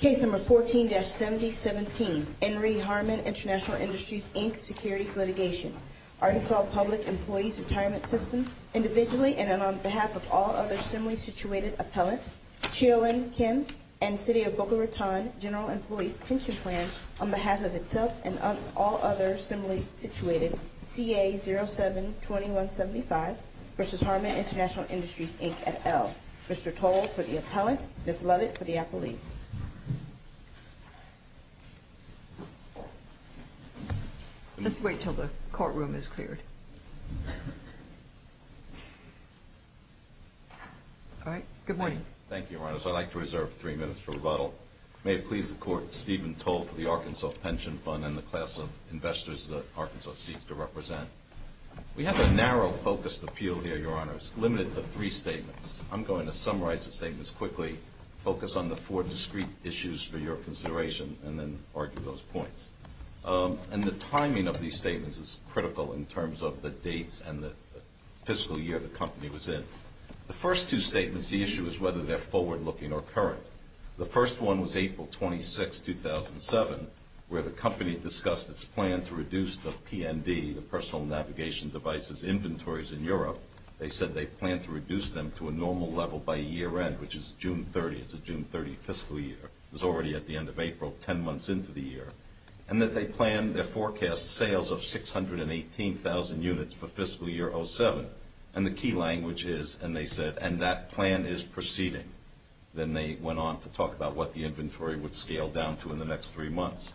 Case number 14-7017, Henry Harman International Industries, Inc., securities litigation. Arkansas Public Employees Retirement System, individually and on behalf of all other similarly situated appellate, Chiyo-Lin Kim, and City of Boca Raton General Employees Pension Plan, on behalf of itself and all other similarly situated, CA-07-2175, versus Harman International Industries, Inc., et al. Mr. Toll for the appellant, Ms. Lovett for the appellees. Let's wait until the courtroom is cleared. All right. Good morning. Thank you, Your Honors. I'd like to reserve three minutes for rebuttal. May it please the Court, Stephen Toll for the Arkansas Pension Fund and the class of investors that Arkansas seeks to represent. We have a narrow focused appeal here, Your Honors, limited to three statements. I'm going to summarize the statements quickly, focus on the four discrete issues for your consideration, and then argue those points. And the timing of these statements is critical in terms of the dates and the fiscal year the company was in. The first two statements, the issue is whether they're forward-looking or current. The first one was April 26, 2007, where the company discussed its plan to reduce the PND, the personal navigation devices inventories in Europe. They said they planned to reduce them to a normal level by year-end, which is June 30. It's a June 30 fiscal year. It was already at the end of April, 10 months into the year. And that they planned their forecast sales of 618,000 units for fiscal year 07. And the key language is, and they said, and that plan is proceeding. Then they went on to talk about what the inventory would scale down to in the next three months.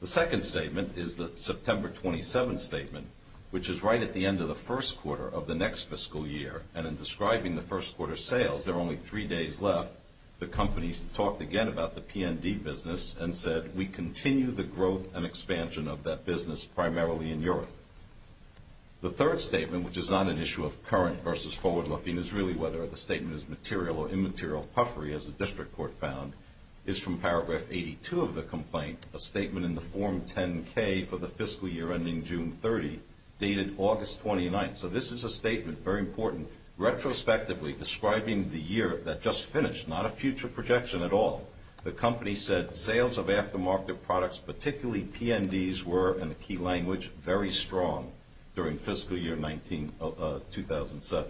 The second statement is the September 27 statement, which is right at the end of the first quarter of the next fiscal year. And in describing the first quarter sales, there are only three days left. The company talked again about the PND business and said, we continue the growth and expansion of that business primarily in Europe. The third statement, which is not an issue of current versus forward-looking, is really whether the statement is material or immaterial puffery, as the district court found, is from paragraph 82 of the complaint, a statement in the form 10-K for the fiscal year ending June 30, dated August 29. So this is a statement, very important, retrospectively describing the year that just finished, not a future projection at all. The company said sales of aftermarket products, particularly PNDs, were, in the key language, very strong during fiscal year 2007.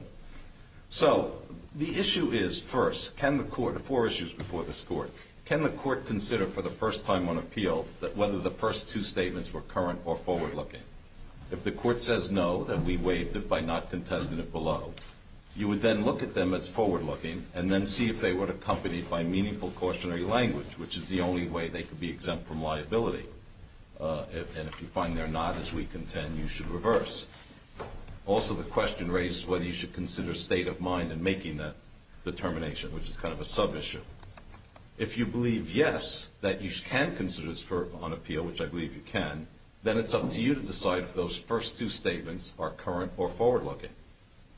So the issue is, first, can the court, four issues before this court, can the court consider for the first time on appeal whether the first two statements were current or forward-looking? If the court says no, then we waived it by not contesting it below. You would then look at them as forward-looking and then see if they were accompanied by meaningful cautionary language, which is the only way they could be exempt from liability. And if you find they're not, as we contend, you should reverse. Also, the question raises whether you should consider state of mind in making that determination, which is kind of a sub-issue. If you believe yes, that you can consider this on appeal, which I believe you can, then it's up to you to decide if those first two statements are current or forward-looking.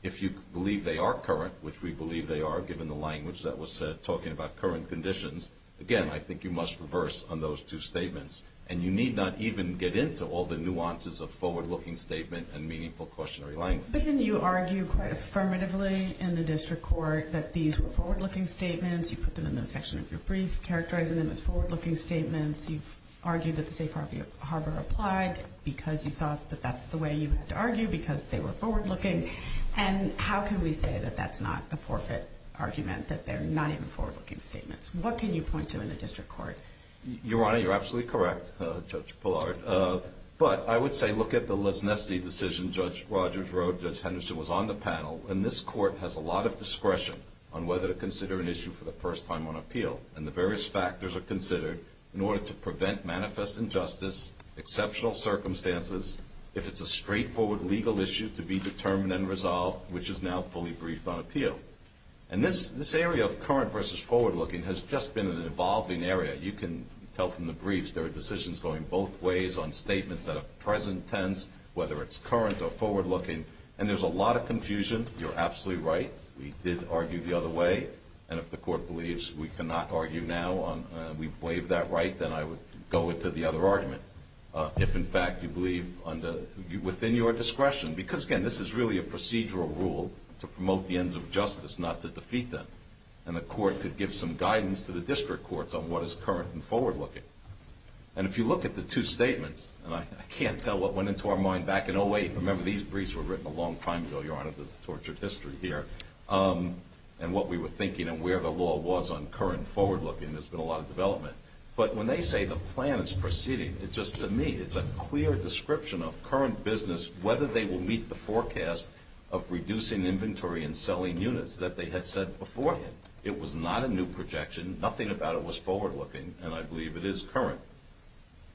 If you believe they are current, which we believe they are, given the language that was said talking about current conditions, again, I think you must reverse on those two statements. And you need not even get into all the nuances of forward-looking statement and meaningful cautionary language. But didn't you argue quite affirmatively in the district court that these were forward-looking statements? You put them in the section of your brief characterizing them as forward-looking statements. You've argued that the safe harbor applied because you thought that that's the way you had to argue, because they were forward-looking. And how can we say that that's not a forfeit argument, that they're not even forward-looking statements? What can you point to in the district court? Your Honor, you're absolutely correct, Judge Pillard. But I would say look at the less-nesty decision Judge Rogers wrote. Judge Henderson was on the panel. And this court has a lot of discretion on whether to consider an issue for the first time on appeal. And the various factors are considered in order to prevent manifest injustice, exceptional circumstances. If it's a straightforward legal issue to be determined and resolved, which is now fully briefed on appeal. And this area of current versus forward-looking has just been an evolving area. You can tell from the briefs there are decisions going both ways on statements that are present tense, whether it's current or forward-looking. And there's a lot of confusion. You're absolutely right. We did argue the other way. And if the court believes we cannot argue now, we waive that right, then I would go into the other argument. If, in fact, you believe within your discretion. Because, again, this is really a procedural rule to promote the ends of justice, not to defeat them. And the court could give some guidance to the district courts on what is current and forward-looking. And if you look at the two statements, and I can't tell what went into our mind back in 08. Remember, these briefs were written a long time ago, Your Honor. There's a tortured history here. And what we were thinking and where the law was on current and forward-looking. There's been a lot of development. But when they say the plan is proceeding, just to me, it's a clear description of current business, whether they will meet the forecast of reducing inventory and selling units that they had said before. It was not a new projection. Nothing about it was forward-looking. And I believe it is current.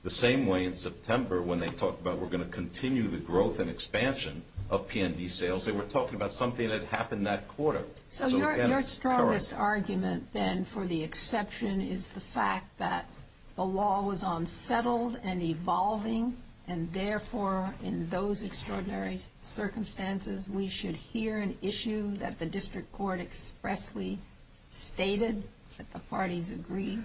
The same way in September when they talked about we're going to continue the growth and expansion of P&D sales, they were talking about something that happened that quarter. So your strongest argument, then, for the exception is the fact that the law was unsettled and evolving. And, therefore, in those extraordinary circumstances, we should hear an issue that the district court expressly stated that the parties agreed?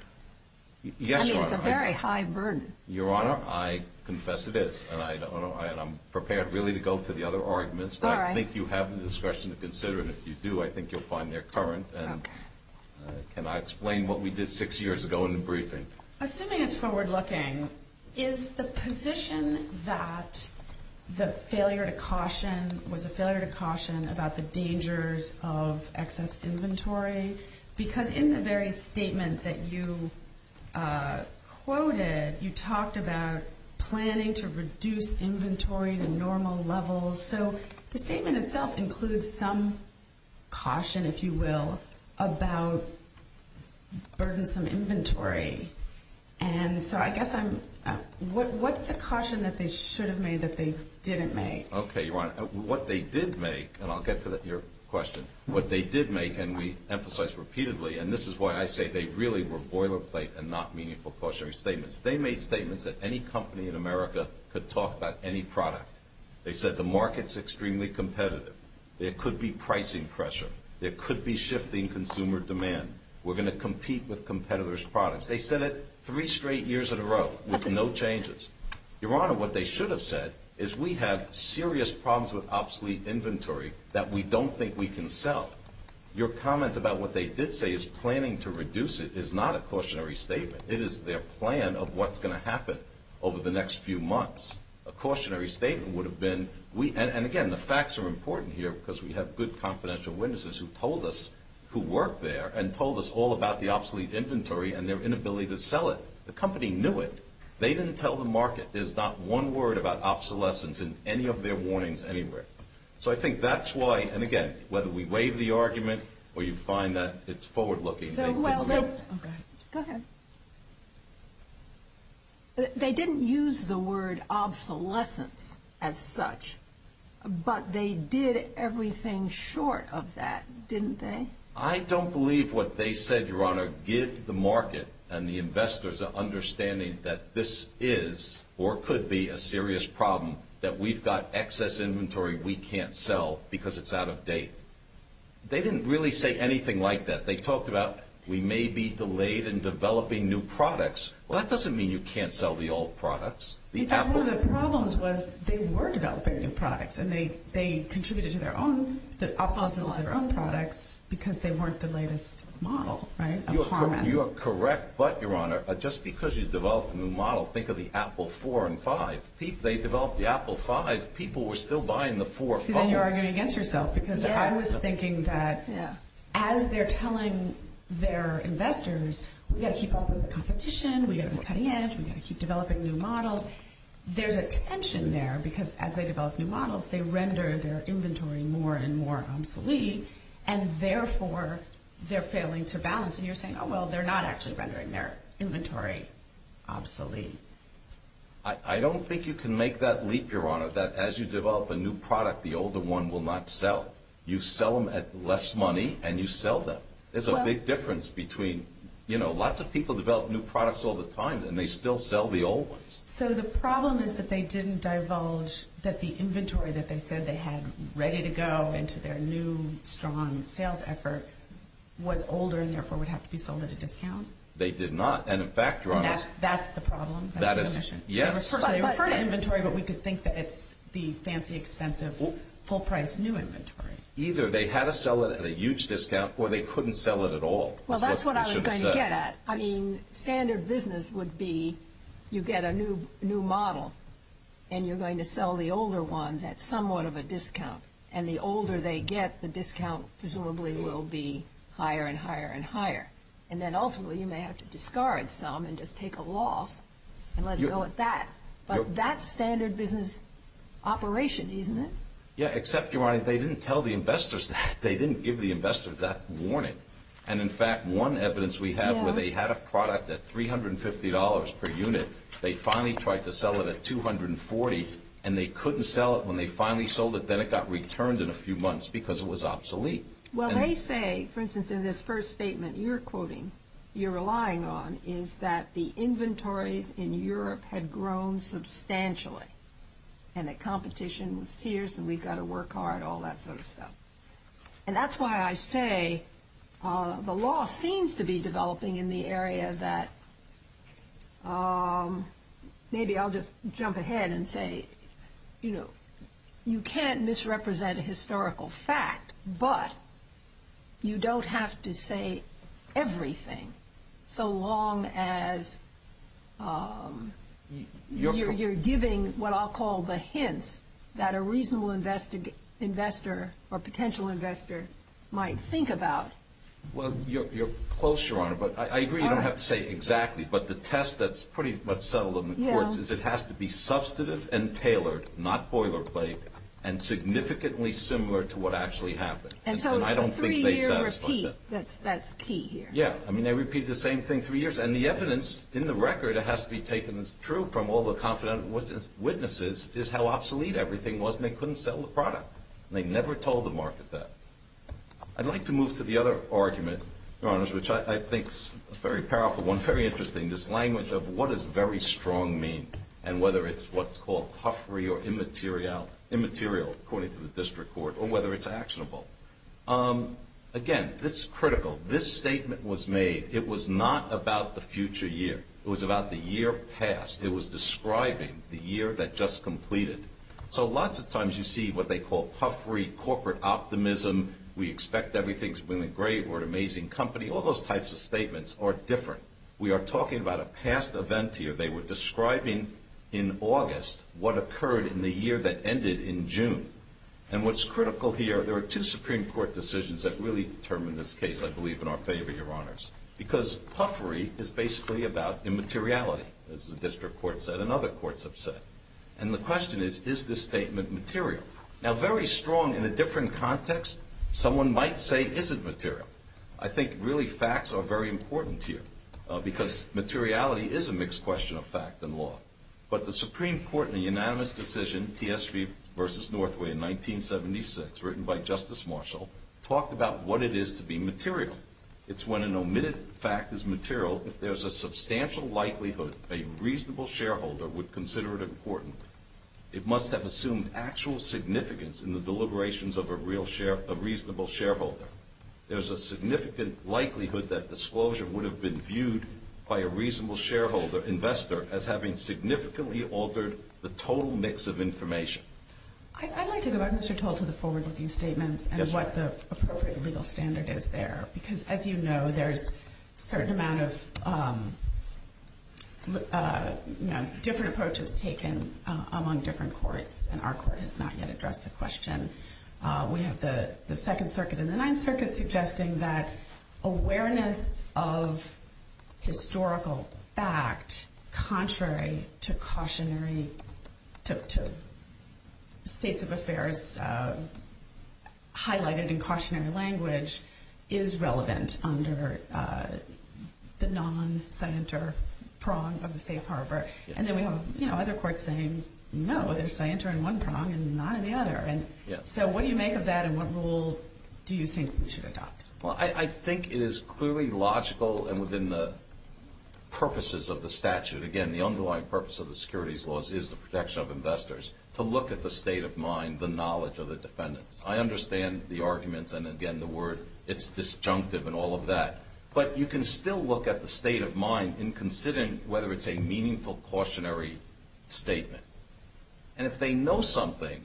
Yes, Your Honor. I mean, it's a very high burden. Your Honor, I confess it is. And I'm prepared, really, to go to the other arguments. But I think you have the discretion to consider it. And if you do, I think you'll find they're current. And can I explain what we did six years ago in the briefing? Assuming it's forward-looking, is the position that the failure to caution was a failure to caution about the dangers of excess inventory? Because in the very statement that you quoted, you talked about planning to reduce inventory to normal levels. So the statement itself includes some caution, if you will, about burdensome inventory. And so I guess I'm ‑‑ what's the caution that they should have made that they didn't make? Okay, Your Honor. What they did make, and I'll get to your question. What they did make, and we emphasize repeatedly, and this is why I say they really were boilerplate and not meaningful cautionary statements. They made statements that any company in America could talk about any product. They said the market's extremely competitive. There could be pricing pressure. There could be shifting consumer demand. We're going to compete with competitors' products. They said it three straight years in a row with no changes. Your Honor, what they should have said is we have serious problems with obsolete inventory that we don't think we can sell. Your comment about what they did say is planning to reduce it is not a cautionary statement. It is their plan of what's going to happen over the next few months. A cautionary statement would have been, and again, the facts are important here because we have good confidential witnesses who told us, who work there, and told us all about the obsolete inventory and their inability to sell it. The company knew it. They didn't tell the market. There's not one word about obsolescence in any of their warnings anywhere. So I think that's why, and again, whether we waive the argument or you find that it's forward‑looking. Go ahead. They didn't use the word obsolescence as such, but they did everything short of that, didn't they? I don't believe what they said, Your Honor. Give the market and the investors an understanding that this is or could be a serious problem, that we've got excess inventory we can't sell because it's out of date. They didn't really say anything like that. They talked about we may be delayed in developing new products. Well, that doesn't mean you can't sell the old products. One of the problems was they were developing new products, and they contributed to their own obsolescence of their own products because they weren't the latest model, right, of Harmon. You are correct, but, Your Honor, just because you developed a new model, think of the Apple 4 and 5. They developed the Apple 5. People were still buying the 4 and 5. I see that you're arguing against yourself because I was thinking that, as they're telling their investors, we've got to keep up with the competition, we've got to be cutting edge, we've got to keep developing new models, there's a tension there because, as they develop new models, they render their inventory more and more obsolete, and, therefore, they're failing to balance. And you're saying, oh, well, they're not actually rendering their inventory obsolete. I don't think you can make that leap, Your Honor, that as you develop a new product, the older one will not sell. You sell them at less money, and you sell them. There's a big difference between, you know, lots of people develop new products all the time, and they still sell the old ones. So the problem is that they didn't divulge that the inventory that they said they had ready to go into their new strong sales effort was older and, therefore, would have to be sold at a discount? They did not, and, in fact, Your Honor. That's the problem? That is, yes. They refer to inventory, but we could think that it's the fancy, expensive, full-priced new inventory. Either they had to sell it at a huge discount, or they couldn't sell it at all. Well, that's what I was going to get at. I mean, standard business would be you get a new model, and you're going to sell the older ones at somewhat of a discount. And the older they get, the discount presumably will be higher and higher and higher. And then, ultimately, you may have to discard some and just take a loss and let it go at that. But that's standard business operation, isn't it? Yeah, except, Your Honor, they didn't tell the investors that. They didn't give the investors that warning. And, in fact, one evidence we have where they had a product at $350 per unit. They finally tried to sell it at $240, and they couldn't sell it. When they finally sold it, then it got returned in a few months because it was obsolete. Well, they say, for instance, in this first statement you're quoting, you're relying on, is that the inventories in Europe had grown substantially and that competition was fierce and we've got to work hard, all that sort of stuff. And that's why I say the law seems to be developing in the area that maybe I'll just jump ahead and say, you know, you don't have to say everything so long as you're giving what I'll call the hints that a reasonable investor or potential investor might think about. Well, you're close, Your Honor, but I agree you don't have to say exactly. But the test that's pretty much settled in the courts is it has to be substantive and tailored, not boilerplate, and significantly similar to what actually happened. And so it's a three-year repeat that's key here. Yeah. I mean, they repeat the same thing three years. And the evidence in the record has to be taken as true from all the confident witnesses is how obsolete everything was and they couldn't sell the product. They never told the market that. I'd like to move to the other argument, Your Honors, which I think is a very powerful one, very interesting, this language of what does very strong mean and whether it's what's called puffery or immaterial, according to the district court, or whether it's actionable. Again, this is critical. This statement was made. It was not about the future year. It was about the year past. It was describing the year that just completed. So lots of times you see what they call puffery, corporate optimism, we expect everything's going to be great, we're an amazing company. All those types of statements are different. We are talking about a past event here. They were describing in August what occurred in the year that ended in June. And what's critical here, there are two Supreme Court decisions that really determine this case, I believe, in our favor, Your Honors, because puffery is basically about immateriality, as the district court said and other courts have said. And the question is, is this statement material? Now, very strong in a different context, someone might say, is it material? I think really facts are very important here because materiality is a mixed question of fact and law. But the Supreme Court in the unanimous decision, TSV v. Northway in 1976, written by Justice Marshall, talked about what it is to be material. It's when an omitted fact is material, if there's a substantial likelihood a reasonable shareholder would consider it important, it must have assumed actual significance in the deliberations of a reasonable shareholder. There's a significant likelihood that disclosure would have been viewed by a reasonable shareholder investor as having significantly altered the total mix of information. I'd like to go back, Mr. Tolt, to the forward-looking statements and what the appropriate legal standard is there. Because, as you know, there's a certain amount of different approaches taken among different courts, and our court has not yet addressed the question. We have the Second Circuit and the Ninth Circuit suggesting that awareness of historical fact contrary to states of affairs highlighted in cautionary language is relevant under the non-scienter prong of the safe harbor. And then we have other courts saying, no, there's scienter in one prong and not in the other. And so what do you make of that and what rule do you think we should adopt? Well, I think it is clearly logical and within the purposes of the statute. Again, the underlying purpose of the securities laws is the protection of investors to look at the state of mind, the knowledge of the defendants. I understand the arguments and, again, the word. It's disjunctive and all of that. But you can still look at the state of mind in considering whether it's a meaningful cautionary statement. And if they know something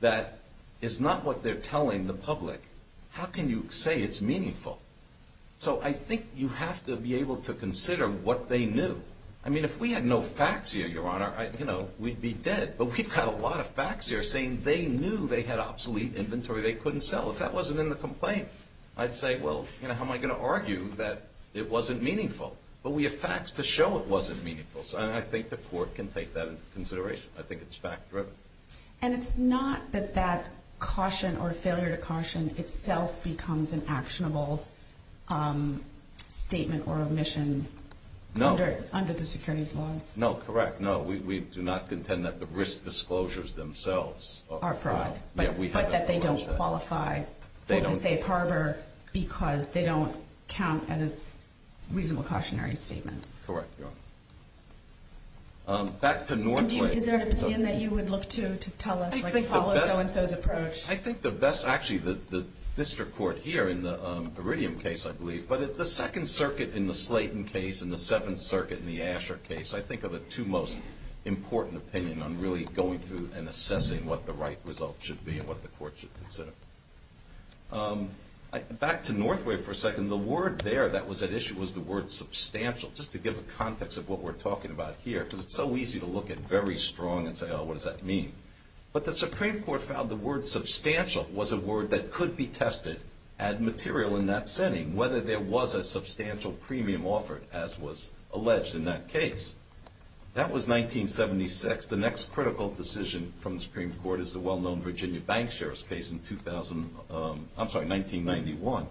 that is not what they're telling the public, how can you say it's meaningful? So I think you have to be able to consider what they knew. I mean, if we had no facts here, Your Honor, you know, we'd be dead. But we've got a lot of facts here saying they knew they had obsolete inventory they couldn't sell. If that wasn't in the complaint, I'd say, well, you know, how am I going to argue that it wasn't meaningful? But we have facts to show it wasn't meaningful. So I think the court can take that into consideration. I think it's fact-driven. And it's not that that caution or failure to caution itself becomes an actionable statement or omission under the securities laws? No, correct. No, we do not contend that the risk disclosures themselves are fraud. But that they don't qualify for the safe harbor because they don't count as reasonable cautionary statements. Correct, Your Honor. Back to Northway. Is there an opinion that you would look to to tell us, like, follow so-and-so's approach? I think the best ‑‑ actually, the district court here in the Iridium case, I believe, but the Second Circuit in the Slayton case and the Seventh Circuit in the Asher case, I think are the two most important opinions on really going through and assessing what the right result should be and what the court should consider. Back to Northway for a second. And the word there that was at issue was the word substantial, just to give a context of what we're talking about here, because it's so easy to look at very strong and say, oh, what does that mean? But the Supreme Court found the word substantial was a word that could be tested at material in that setting, whether there was a substantial premium offered, as was alleged in that case. That was 1976. The next critical decision from the Supreme Court is the well-known Virginia bank sheriff's case in 2000 ‑‑ I'm sorry, 1991.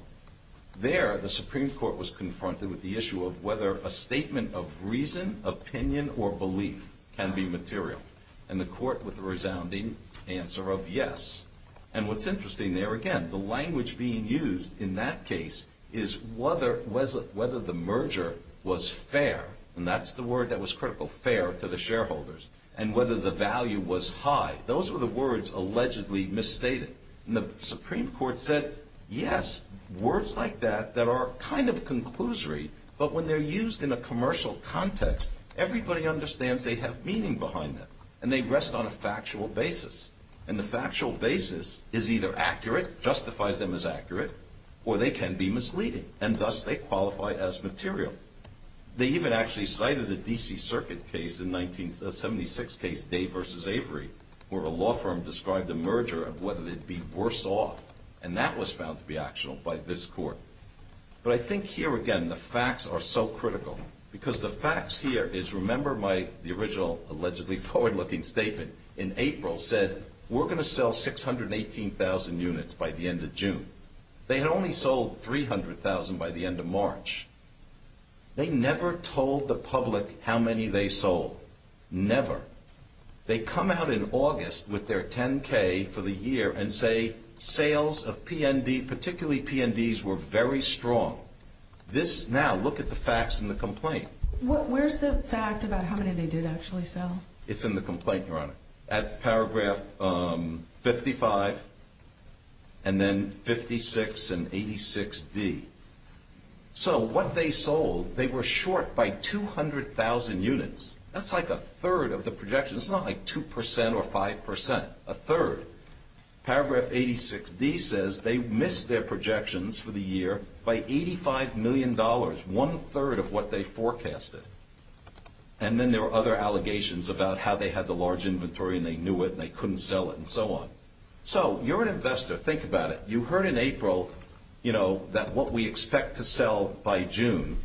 There, the Supreme Court was confronted with the issue of whether a statement of reason, opinion, or belief can be material. And the court with a resounding answer of yes. And what's interesting there, again, the language being used in that case is whether the merger was fair, and that's the word that was critical, fair, to the shareholders, and whether the value was high. Those were the words allegedly misstated. And the Supreme Court said, yes, words like that that are kind of conclusory, but when they're used in a commercial context, everybody understands they have meaning behind them, and they rest on a factual basis. And the factual basis is either accurate, justifies them as accurate, or they can be misleading, and thus they qualify as material. They even actually cited a D.C. Circuit case in 1976, Dave versus Avery, where a law firm described a merger of whether they'd be worse off. And that was found to be actual by this court. But I think here, again, the facts are so critical. Because the facts here is, remember my ‑‑ the original allegedly forward‑looking statement in April said, we're going to sell 618,000 units by the end of June. They had only sold 300,000 by the end of March. They never told the public how many they sold. Never. They come out in August with their 10K for the year and say, sales of PND, particularly PNDs, were very strong. This now, look at the facts in the complaint. Where's the fact about how many they did actually sell? It's in the complaint, Your Honor. At paragraph 55, and then 56 and 86D. So what they sold, they were short by 200,000 units. That's like a third of the projections. It's not like 2% or 5%. A third. Paragraph 86D says they missed their projections for the year by $85 million, one third of what they forecasted. And then there were other allegations about how they had the large inventory and they knew it and they couldn't sell it and so on. So you're an investor. Think about it. You heard in April, you know, that what we expect to sell by June,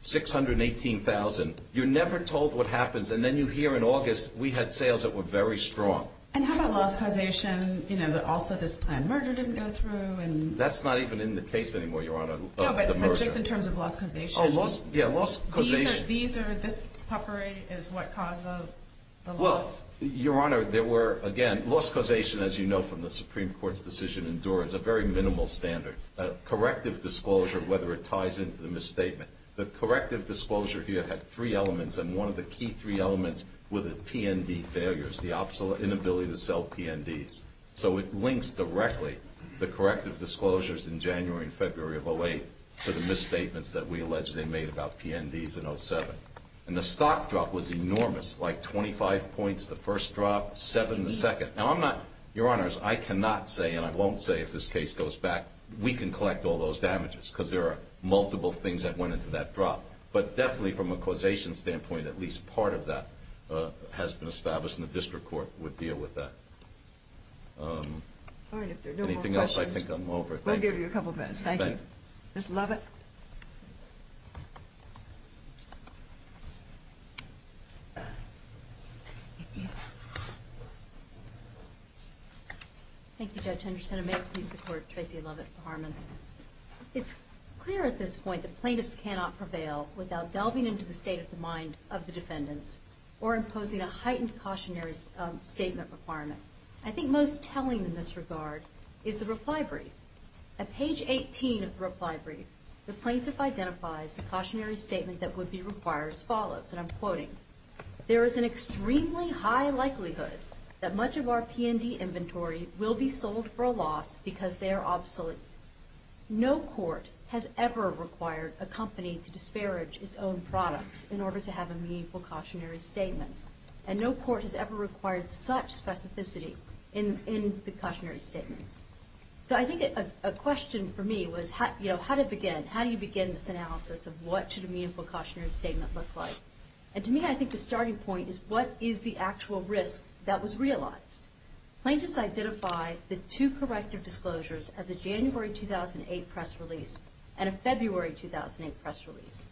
618,000. You're never told what happens. And then you hear in August, we had sales that were very strong. And how about loss causation? You know, also this planned murder didn't go through. That's not even in the case anymore, Your Honor, of the murder. No, but just in terms of loss causation. Yeah, loss causation. These are, this puffery is what caused the loss. Well, Your Honor, there were, again, loss causation, as you know from the Supreme Court's decision in Doar, is a very minimal standard. A corrective disclosure, whether it ties into the misstatement. The corrective disclosure here had three elements, and one of the key three elements were the P&D failures, the inability to sell P&Ds. So it links directly the corrective disclosures in January and February of 08 to the misstatements that we allege they made about P&Ds in 07. And the stock drop was enormous, like 25 points the first drop, seven the second. Now, I'm not, Your Honors, I cannot say, and I won't say if this case goes back, we can collect all those damages because there are multiple things that went into that drop. But definitely from a causation standpoint, at least part of that has been established, and the district court would deal with that. All right, if there are no more questions. Anything else, I think I'm over. We'll give you a couple minutes. Thank you. Ms. Lovett. Thank you, Judge Henderson. And may it please the Court, Tracy Lovett for Harmon. It's clear at this point that plaintiffs cannot prevail without delving into the state of the mind of the defendants or imposing a heightened cautionary statement requirement. I think most telling in this regard is the reply brief. At page 18 of the reply brief, the plaintiff identifies the cautionary statement that would be required as follows, and I'm quoting, there is an extremely high likelihood that much of our P&D inventory will be sold for a loss because they are obsolete. No court has ever required a company to disparage its own products in order to have a meaningful cautionary statement. And no court has ever required such specificity in the cautionary statements. So I think a question for me was, you know, how to begin? How do you begin this analysis of what should a meaningful cautionary statement look like? And to me, I think the starting point is what is the actual risk that was realized? Plaintiffs identify the two corrective disclosures as a January 2008 press release and a February 2008 press release.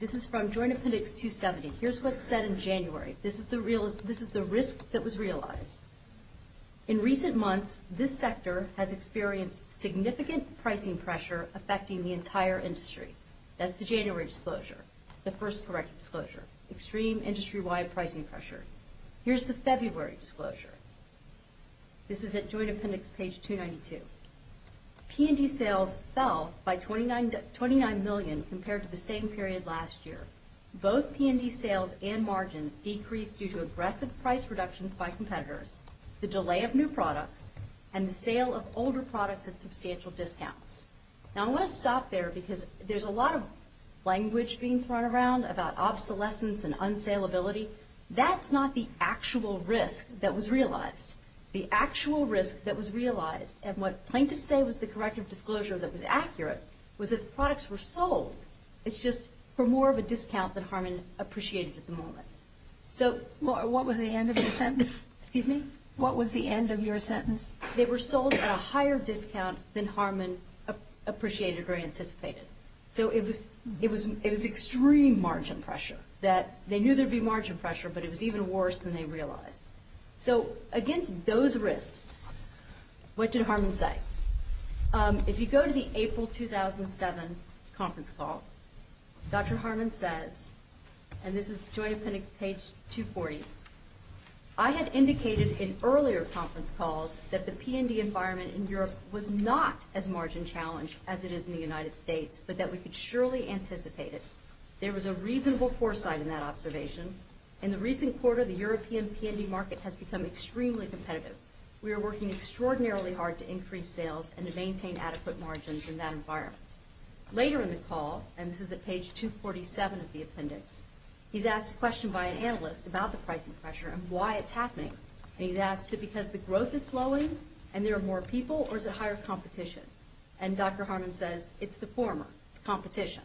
This is from Joint Appendix 270. Here's what's said in January. This is the risk that was realized. In recent months, this sector has experienced significant pricing pressure affecting the entire industry. That's the January disclosure, the first corrective disclosure, extreme industry-wide pricing pressure. Here's the February disclosure. This is at Joint Appendix page 292. P&D sales fell by 29 million compared to the same period last year. Both P&D sales and margins decreased due to aggressive price reductions by competitors, the delay of new products, and the sale of older products at substantial discounts. Now, I want to stop there because there's a lot of language being thrown around about obsolescence and unsaleability. That's not the actual risk that was realized. The actual risk that was realized, and what plaintiffs say was the corrective disclosure that was accurate, was that the products were sold. It's just for more of a discount than Harmon appreciated at the moment. So what was the end of your sentence? They were sold at a higher discount than Harmon appreciated or anticipated. So it was extreme margin pressure that they knew there would be margin pressure, but it was even worse than they realized. So against those risks, what did Harmon say? If you go to the April 2007 conference call, Dr. Harmon says, and this is Joint Appendix page 240, I had indicated in earlier conference calls that the P&D environment in Europe was not as margin challenged as it is in the United States, but that we could surely anticipate it. There was a reasonable foresight in that observation. In the recent quarter, the European P&D market has become extremely competitive. We are working extraordinarily hard to increase sales and to maintain adequate margins in that environment. Later in the call, and this is at page 247 of the appendix, he's asked a question by an analyst about the pricing pressure and why it's happening. And he's asked, is it because the growth is slowing and there are more people, or is it higher competition? And Dr. Harmon says, it's the former. It's competition.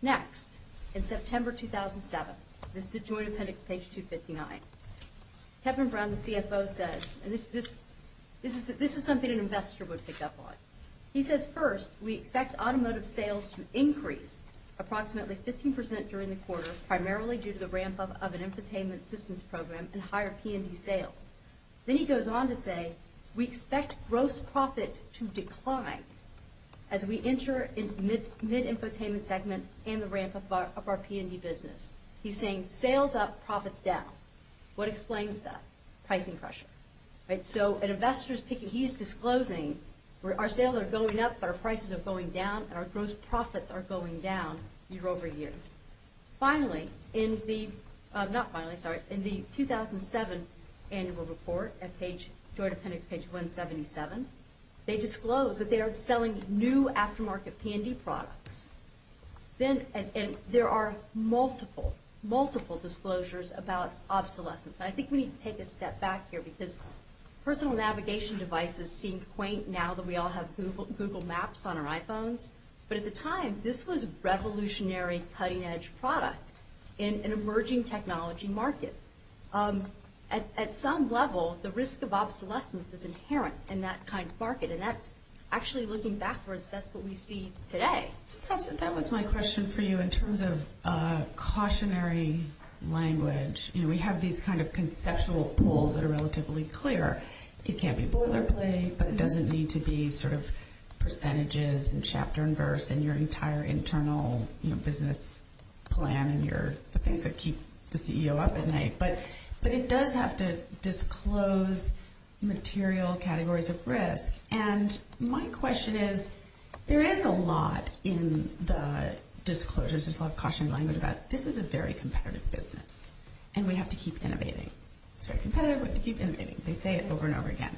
Next, in September 2007, this is at Joint Appendix page 259, Kevin Brown, the CFO, says, and this is something an investor would pick up on. He says, first, we expect automotive sales to increase approximately 15% during the quarter, primarily due to the ramp-up of an infotainment systems program and higher P&D sales. Then he goes on to say, we expect gross profit to decline as we enter mid-infotainment segment and the ramp-up of our P&D business. He's saying, sales up, profits down. What explains that? Pricing pressure. So an investor is picking, he's disclosing, our sales are going up, but our prices are going down, and our gross profits are going down year over year. Finally, in the 2007 annual report at Joint Appendix page 177, they disclose that they are selling new aftermarket P&D products. And there are multiple, multiple disclosures about obsolescence. I think we need to take a step back here, because personal navigation devices seem quaint now that we all have Google Maps on our iPhones. But at the time, this was a revolutionary, cutting-edge product in an emerging technology market. At some level, the risk of obsolescence is inherent in that kind of market, and actually looking backwards, that's what we see today. So that was my question for you. In terms of cautionary language, we have these kind of conceptual pools that are relatively clear. It can't be boilerplate, but it doesn't need to be sort of percentages and chapter and verse and your entire internal business plan and the things that keep the CEO up at night. But it does have to disclose material categories of risk. And my question is, there is a lot in the disclosures. There's a lot of cautionary language about this is a very competitive business, and we have to keep innovating. It's very competitive, but we have to keep innovating. They say it over and over again.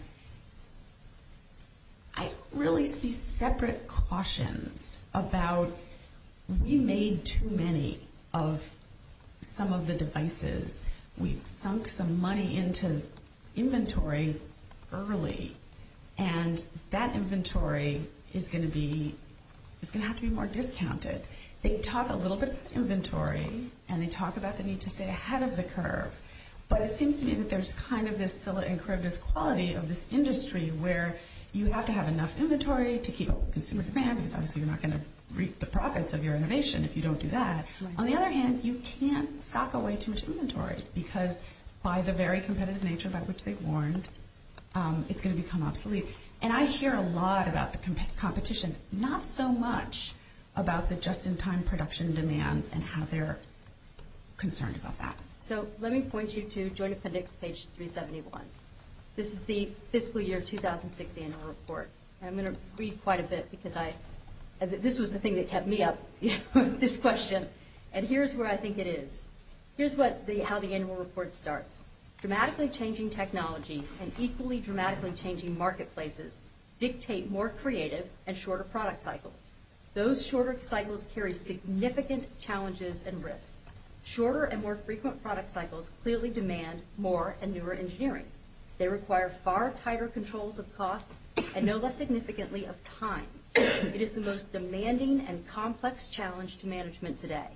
I really see separate cautions about we made too many of some of the devices. We've sunk some money into inventory early, and that inventory is going to have to be more discounted. They talk a little bit about inventory, and they talk about the need to stay ahead of the curve. But it seems to me that there's kind of this Scylla-encrypted quality of this industry where you have to have enough inventory to keep up with consumer demand, because obviously you're not going to reap the profits of your innovation if you don't do that. On the other hand, you can't sock away too much inventory, because by the very competitive nature by which they've warned, it's going to become obsolete. And I hear a lot about the competition, not so much about the just-in-time production demands and how they're concerned about that. So let me point you to Joint Appendix, page 371. This is the fiscal year 2006 annual report. I'm going to read quite a bit, because this was the thing that kept me up this question. And here's where I think it is. Here's how the annual report starts. Dramatically changing technology and equally dramatically changing marketplaces dictate more creative and shorter product cycles. Those shorter cycles carry significant challenges and risks. Shorter and more frequent product cycles clearly demand more and newer engineering. They require far tighter controls of cost and no less significantly of time. It is the most demanding and complex challenge to management today.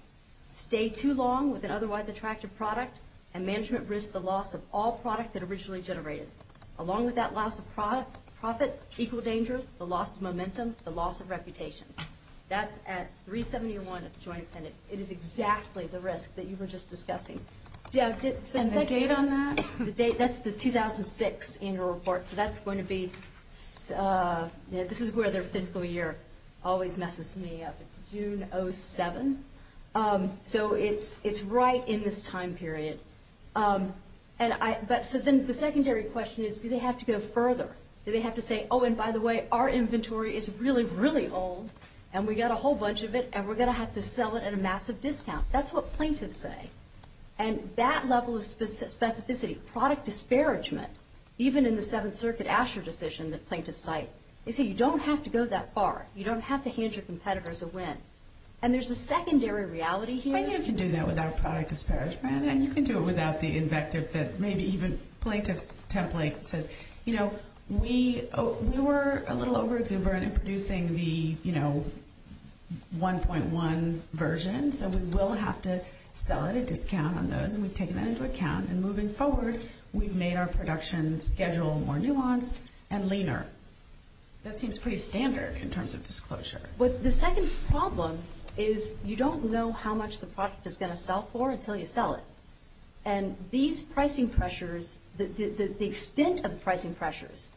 Stay too long with an otherwise attractive product, and management risks the loss of all product that originally generated. Along with that loss of profits, equal dangers, the loss of momentum, the loss of reputation. That's at 371 of the Joint Appendix. It is exactly the risk that you were just discussing. And the date on that? That's the 2006 annual report. So that's going to be, this is where their fiscal year always messes me up. It's June 07. So it's right in this time period. So then the secondary question is, do they have to go further? Do they have to say, oh, and by the way, our inventory is really, really old, and we got a whole bunch of it, and we're going to have to sell it at a massive discount. That's what plaintiffs say. And that level of specificity, product disparagement, even in the Seventh Circuit Asher decision that plaintiffs cite, they say you don't have to go that far. You don't have to hand your competitors a win. And there's a secondary reality here. But you can do that without product disparagement, and you can do it without the invective that maybe even plaintiff's template says, you know, we were a little over-exuberant in producing the, you know, 1.1 version, so we will have to sell at a discount on those, and we've taken that into account. And moving forward, we've made our production schedule more nuanced and leaner. That seems pretty standard in terms of disclosure. The second problem is you don't know how much the product is going to sell for until you sell it. And these pricing pressures, the extent of the pricing pressures,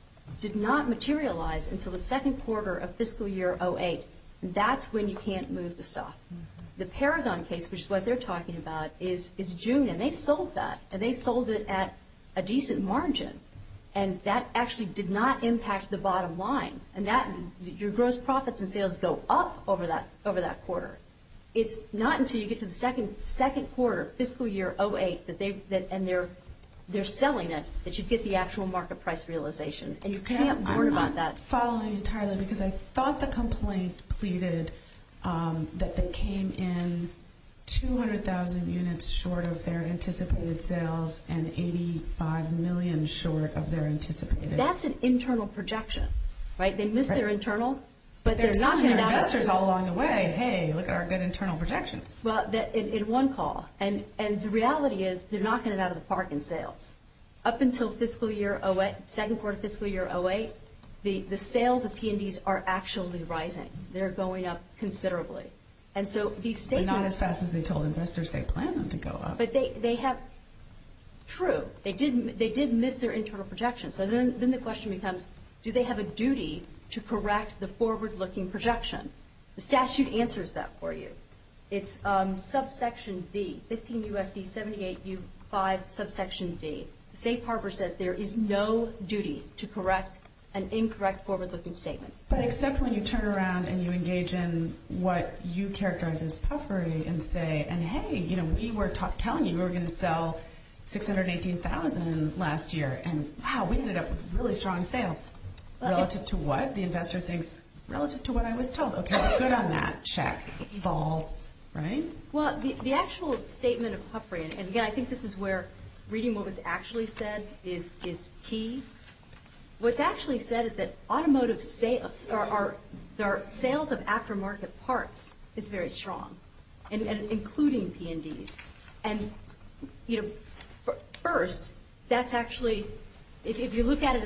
did not materialize until the second quarter of fiscal year 08. That's when you can't move the stuff. The Paragon case, which is what they're talking about, is June, and they sold that, and they sold it at a decent margin, and that actually did not impact the bottom line. And your gross profits and sales go up over that quarter. It's not until you get to the second quarter, fiscal year 08, and they're selling it, that you get the actual market price realization, and you can't worry about that. I'm just following entirely because I thought the complaint pleaded that they came in 200,000 units short of their anticipated sales and 85 million short of their anticipated. That's an internal projection, right? They missed their internal, but they're knocking their investors all along the way, hey, look at our good internal projections. Well, in one call. And the reality is they're knocking it out of the park in sales. Up until fiscal year 08, second quarter fiscal year 08, the sales of P&Ds are actually rising. They're going up considerably. And so these statements – But not as fast as they told investors they planned them to go up. But they have – true. They did miss their internal projections. So then the question becomes, do they have a duty to correct the forward-looking projection? The statute answers that for you. It's subsection D, 15 U.S.C., 78 U.5, subsection D. Safe Harbor says there is no duty to correct an incorrect forward-looking statement. But except when you turn around and you engage in what you characterize as puffery and say, and, hey, we were telling you we were going to sell 618,000 last year, and, wow, we ended up with really strong sales. Relative to what? The investor thinks relative to what I was told. Okay, good on that. Check. False. Right? Well, the actual statement of puffery – and, again, I think this is where reading what was actually said is key. What's actually said is that automotive sales are – the sales of aftermarket parts is very strong, including P&Ds. And, you know, first, that's actually – if you look at it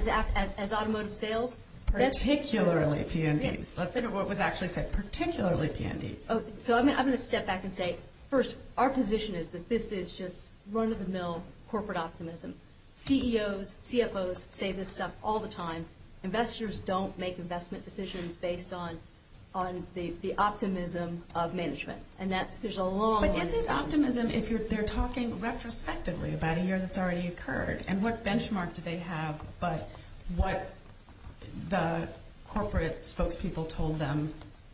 as automotive sales – Particularly P&Ds. Let's look at what was actually said. Particularly P&Ds. So I'm going to step back and say, first, our position is that this is just run-of-the-mill corporate optimism. CEOs, CFOs say this stuff all the time. Investors don't make investment decisions based on the optimism of management. And that's – there's a long – But isn't optimism if they're talking retrospectively about a year that's already occurred and what benchmark do they have but what the corporate spokespeople told them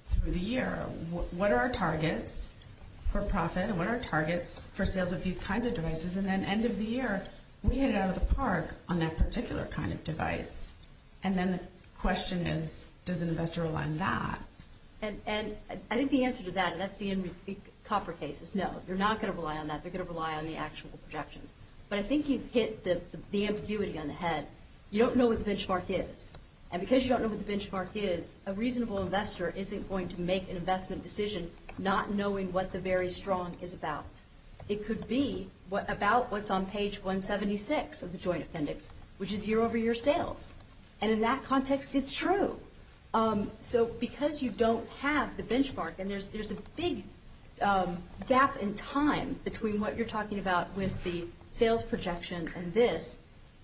through the year? What are our targets for profit and what are our targets for sales of these kinds of devices? And then, end of the year, we hit it out of the park on that particular kind of device. And then the question is, does an investor rely on that? And I think the answer to that, and that's the copper case, is no. They're not going to rely on that. They're going to rely on the actual projections. But I think you've hit the ambiguity on the head. You don't know what the benchmark is. And because you don't know what the benchmark is, a reasonable investor isn't going to make an investment decision not knowing what the very strong is about. It could be about what's on page 176 of the joint appendix, which is year-over-year sales. And in that context, it's true. So because you don't have the benchmark, and there's a big gap in time between what you're talking about with the sales projection and this,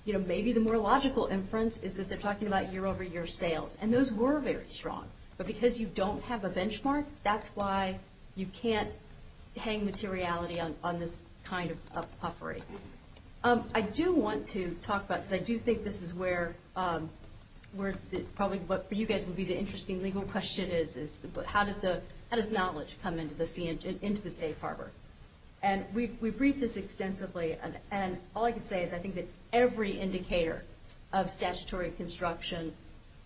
maybe the more logical inference is that they're talking about year-over-year sales. And those were very strong. But because you don't have a benchmark, that's why you can't hang materiality on this kind of puffery. I do want to talk about this. I do think this is where probably what for you guys would be the interesting legal question is, how does knowledge come into the safe harbor? And we briefed this extensively. And all I can say is I think that every indicator of statutory construction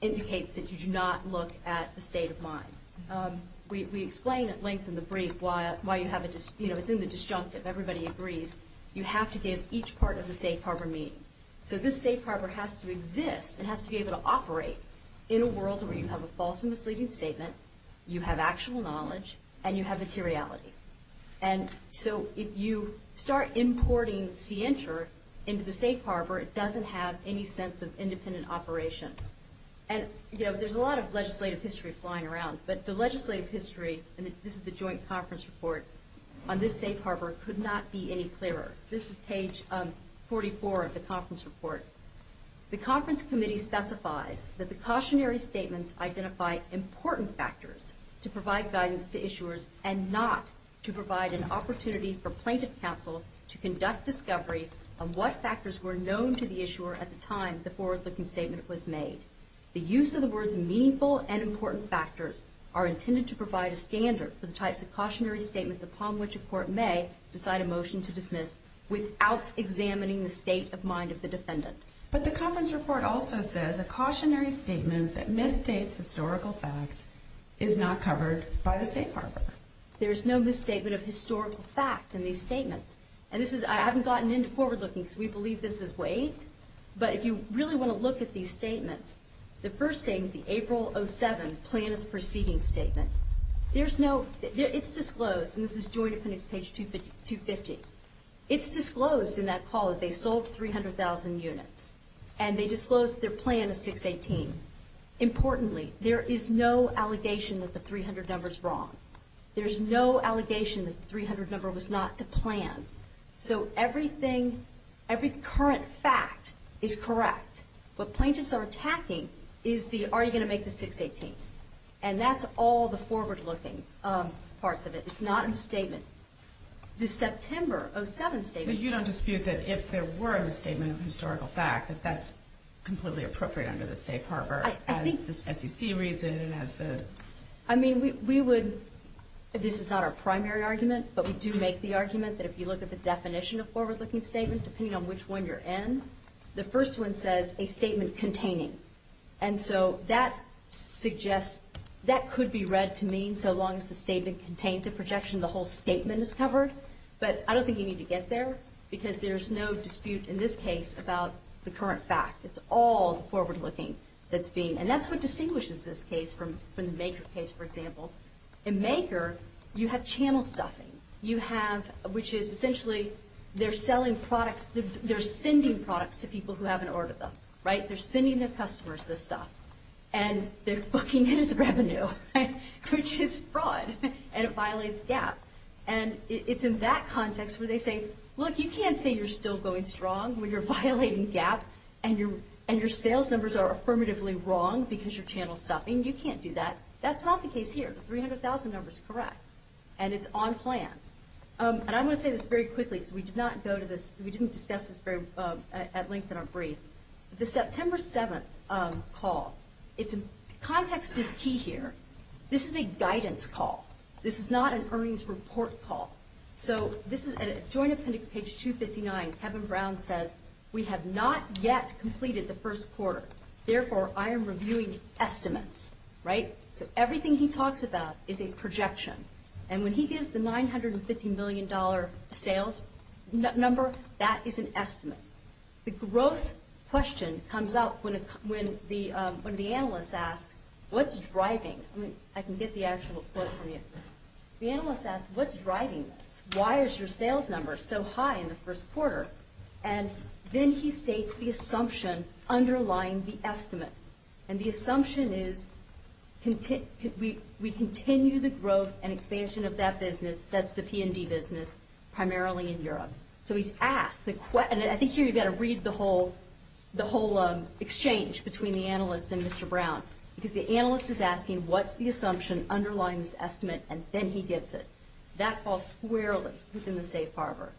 indicates that you do not look at the state of mind. We explain at length in the brief why you have a disjunctive. It's in the disjunctive. Everybody agrees. You have to give each part of the safe harbor meaning. So this safe harbor has to exist. It has to be able to operate in a world where you have a false and misleading statement, you have actual knowledge, and you have materiality. And so if you start importing CNTR into the safe harbor, it doesn't have any sense of independent operation. And, you know, there's a lot of legislative history flying around, but the legislative history, and this is the joint conference report, on this safe harbor could not be any clearer. This is page 44 of the conference report. The conference committee specifies that the cautionary statements identify important factors to provide guidance to issuers and not to provide an opportunity for plaintiff counsel to conduct discovery of what factors were known to the issuer at the time the forward-looking statement was made. The use of the words meaningful and important factors are intended to provide a standard for the types of cautionary statements upon which a court may decide a motion to dismiss without examining the state of mind of the defendant. But the conference report also says a cautionary statement that misstates historical facts is not covered by the safe harbor. There is no misstatement of historical fact in these statements. And this is, I haven't gotten into forward-looking because we believe this is waived, but if you really want to look at these statements, the first statement, the April 07 plaintiff's proceeding statement, there's no, it's disclosed, and this is joint appendix page 250, it's disclosed in that call that they sold 300,000 units and they disclosed their plan of 618. Importantly, there is no allegation that the 300 number's wrong. There's no allegation that the 300 number was not to plan. So everything, every current fact is correct. What plaintiffs are attacking is the, are you going to make the 618? And that's all the forward-looking parts of it. It's not in the statement. The September 07 statement. So you don't dispute that if there were a statement of historical fact, that that's completely appropriate under the safe harbor as the SEC reads it and as the. I mean, we would, this is not our primary argument, but we do make the argument that if you look at the definition of forward-looking statement, depending on which one you're in, the first one says a statement containing. And so that suggests, that could be read to mean so long as the statement contains a projection, the whole statement is covered. But I don't think you need to get there because there's no dispute in this case about the current fact. It's all the forward-looking that's being. And that's what distinguishes this case from the Maker case, for example. In Maker, you have channel stuffing. You have, which is essentially they're selling products, they're sending products to people who haven't ordered them, right? They're sending their customers this stuff. And they're booking it as revenue, which is fraud. And it violates GAAP. And it's in that context where they say, look, you can't say you're still going strong when you're violating GAAP and your sales numbers are affirmatively wrong because your channel's stuffing. You can't do that. That's not the case here. The 300,000 number's correct. And it's on plan. And I want to say this very quickly because we did not go to this, we didn't discuss this at length in our brief. The September 7th call, context is key here. This is a guidance call. This is not an earnings report call. So this is Joint Appendix, page 259. Kevin Brown says, we have not yet completed the first quarter. Therefore, I am reviewing estimates, right? So everything he talks about is a projection. And when he gives the $950 million sales number, that is an estimate. The growth question comes up when the analyst asks, what's driving? I can get the actual quote from you. The analyst asks, what's driving this? Why is your sales number so high in the first quarter? And then he states the assumption underlying the estimate. And the assumption is we continue the growth and expansion of that business, that's the P&D business, primarily in Europe. So he's asked the question, and I think here you've got to read the whole exchange between the analyst and Mr. Brown, because the analyst is asking what's the assumption underlying this estimate, and then he gives it. That falls squarely within the safe harbor.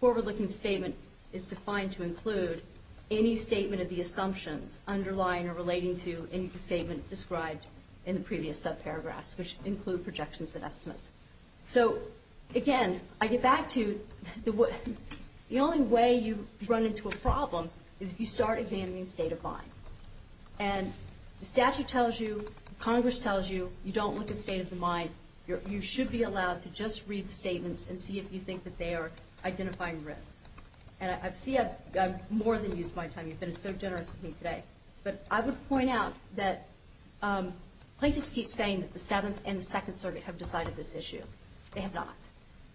Forward-looking statement is defined to include any statement of the assumptions underlying or relating to any statement described in the previous subparagraphs, which include projections and estimates. So, again, I get back to the only way you run into a problem is if you start examining the state of mind. And the statute tells you, Congress tells you, you don't look at state of the mind. You should be allowed to just read the statements and see if you think that they are identifying risks. And I see I've more than used my time. You've been so generous with me today. But I would point out that plaintiffs keep saying that the Seventh and the Second Circuit have decided this issue. They have not.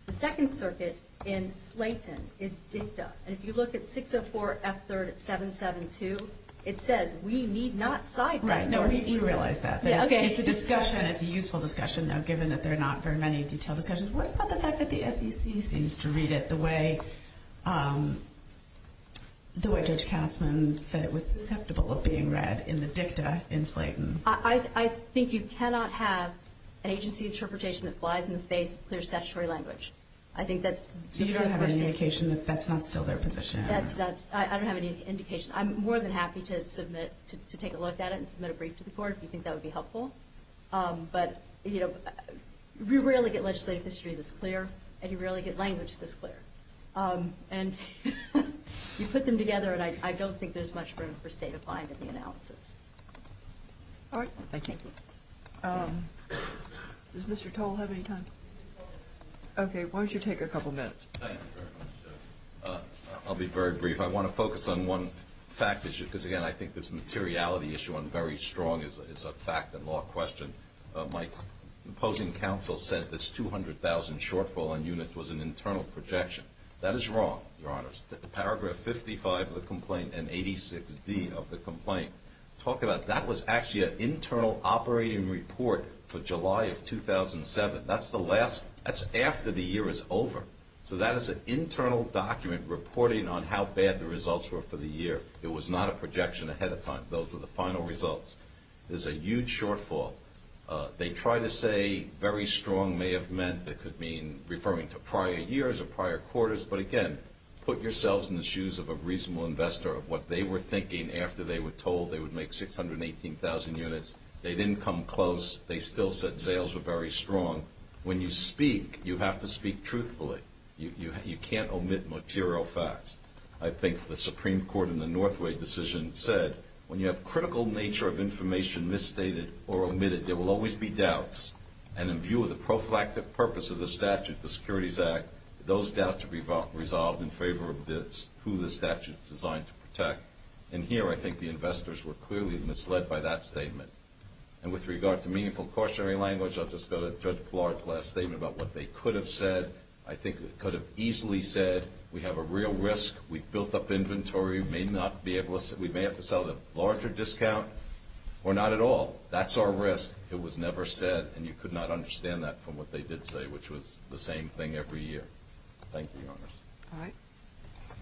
The Second Circuit in Slayton is dicta, and if you look at 604F3rd772, it says we need not cite that. Right. No, we realize that. It's a discussion. It's a useful discussion, though, given that there are not very many detailed discussions. What about the fact that the SEC seems to read it the way Judge Katzmann said it was susceptible of being read in the dicta in Slayton? I think you cannot have an agency interpretation that flies in the face of clear statutory language. I think that's sort of a mistake. So you don't have any indication that that's not still their position? I don't have any indication. I'm more than happy to take a look at it and submit a brief to the court if you think that would be helpful. But you rarely get legislative history this clear, and you rarely get language this clear. And you put them together, and I don't think there's much room for state of mind in the analysis. All right. Thank you. Does Mr. Toll have any time? Okay. Why don't you take a couple minutes? I'll be very brief. I want to focus on one fact issue, because, again, I think this materiality issue on very strong is a fact and law question. My opposing counsel said this 200,000 shortfall in units was an internal projection. That is wrong, Your Honor. Paragraph 55 of the complaint and 86D of the complaint. Talk about that was actually an internal operating report for July of 2007. That's after the year is over. So that is an internal document reporting on how bad the results were for the year. It was not a projection ahead of time. Those were the final results. There's a huge shortfall. They try to say very strong may have meant it could mean referring to prior years or prior quarters, but, again, put yourselves in the shoes of a reasonable investor of what they were thinking after they were told they would make 618,000 units. They didn't come close. They still said sales were very strong. When you speak, you have to speak truthfully. You can't omit material facts. I think the Supreme Court in the Northway decision said, when you have critical nature of information misstated or omitted, there will always be doubts. And in view of the prophylactic purpose of the statute, the Securities Act, those doubts are resolved in favor of who the statute is designed to protect. And here I think the investors were clearly misled by that statement. And with regard to meaningful cautionary language, I'll just go to Judge Flaherty's last statement about what they could have said. I think it could have easily said we have a real risk. We've built up inventory. We may have to sell at a larger discount or not at all. That's our risk. It was never said, and you could not understand that from what they did say, which was the same thing every year. Thank you, Your Honor. All right.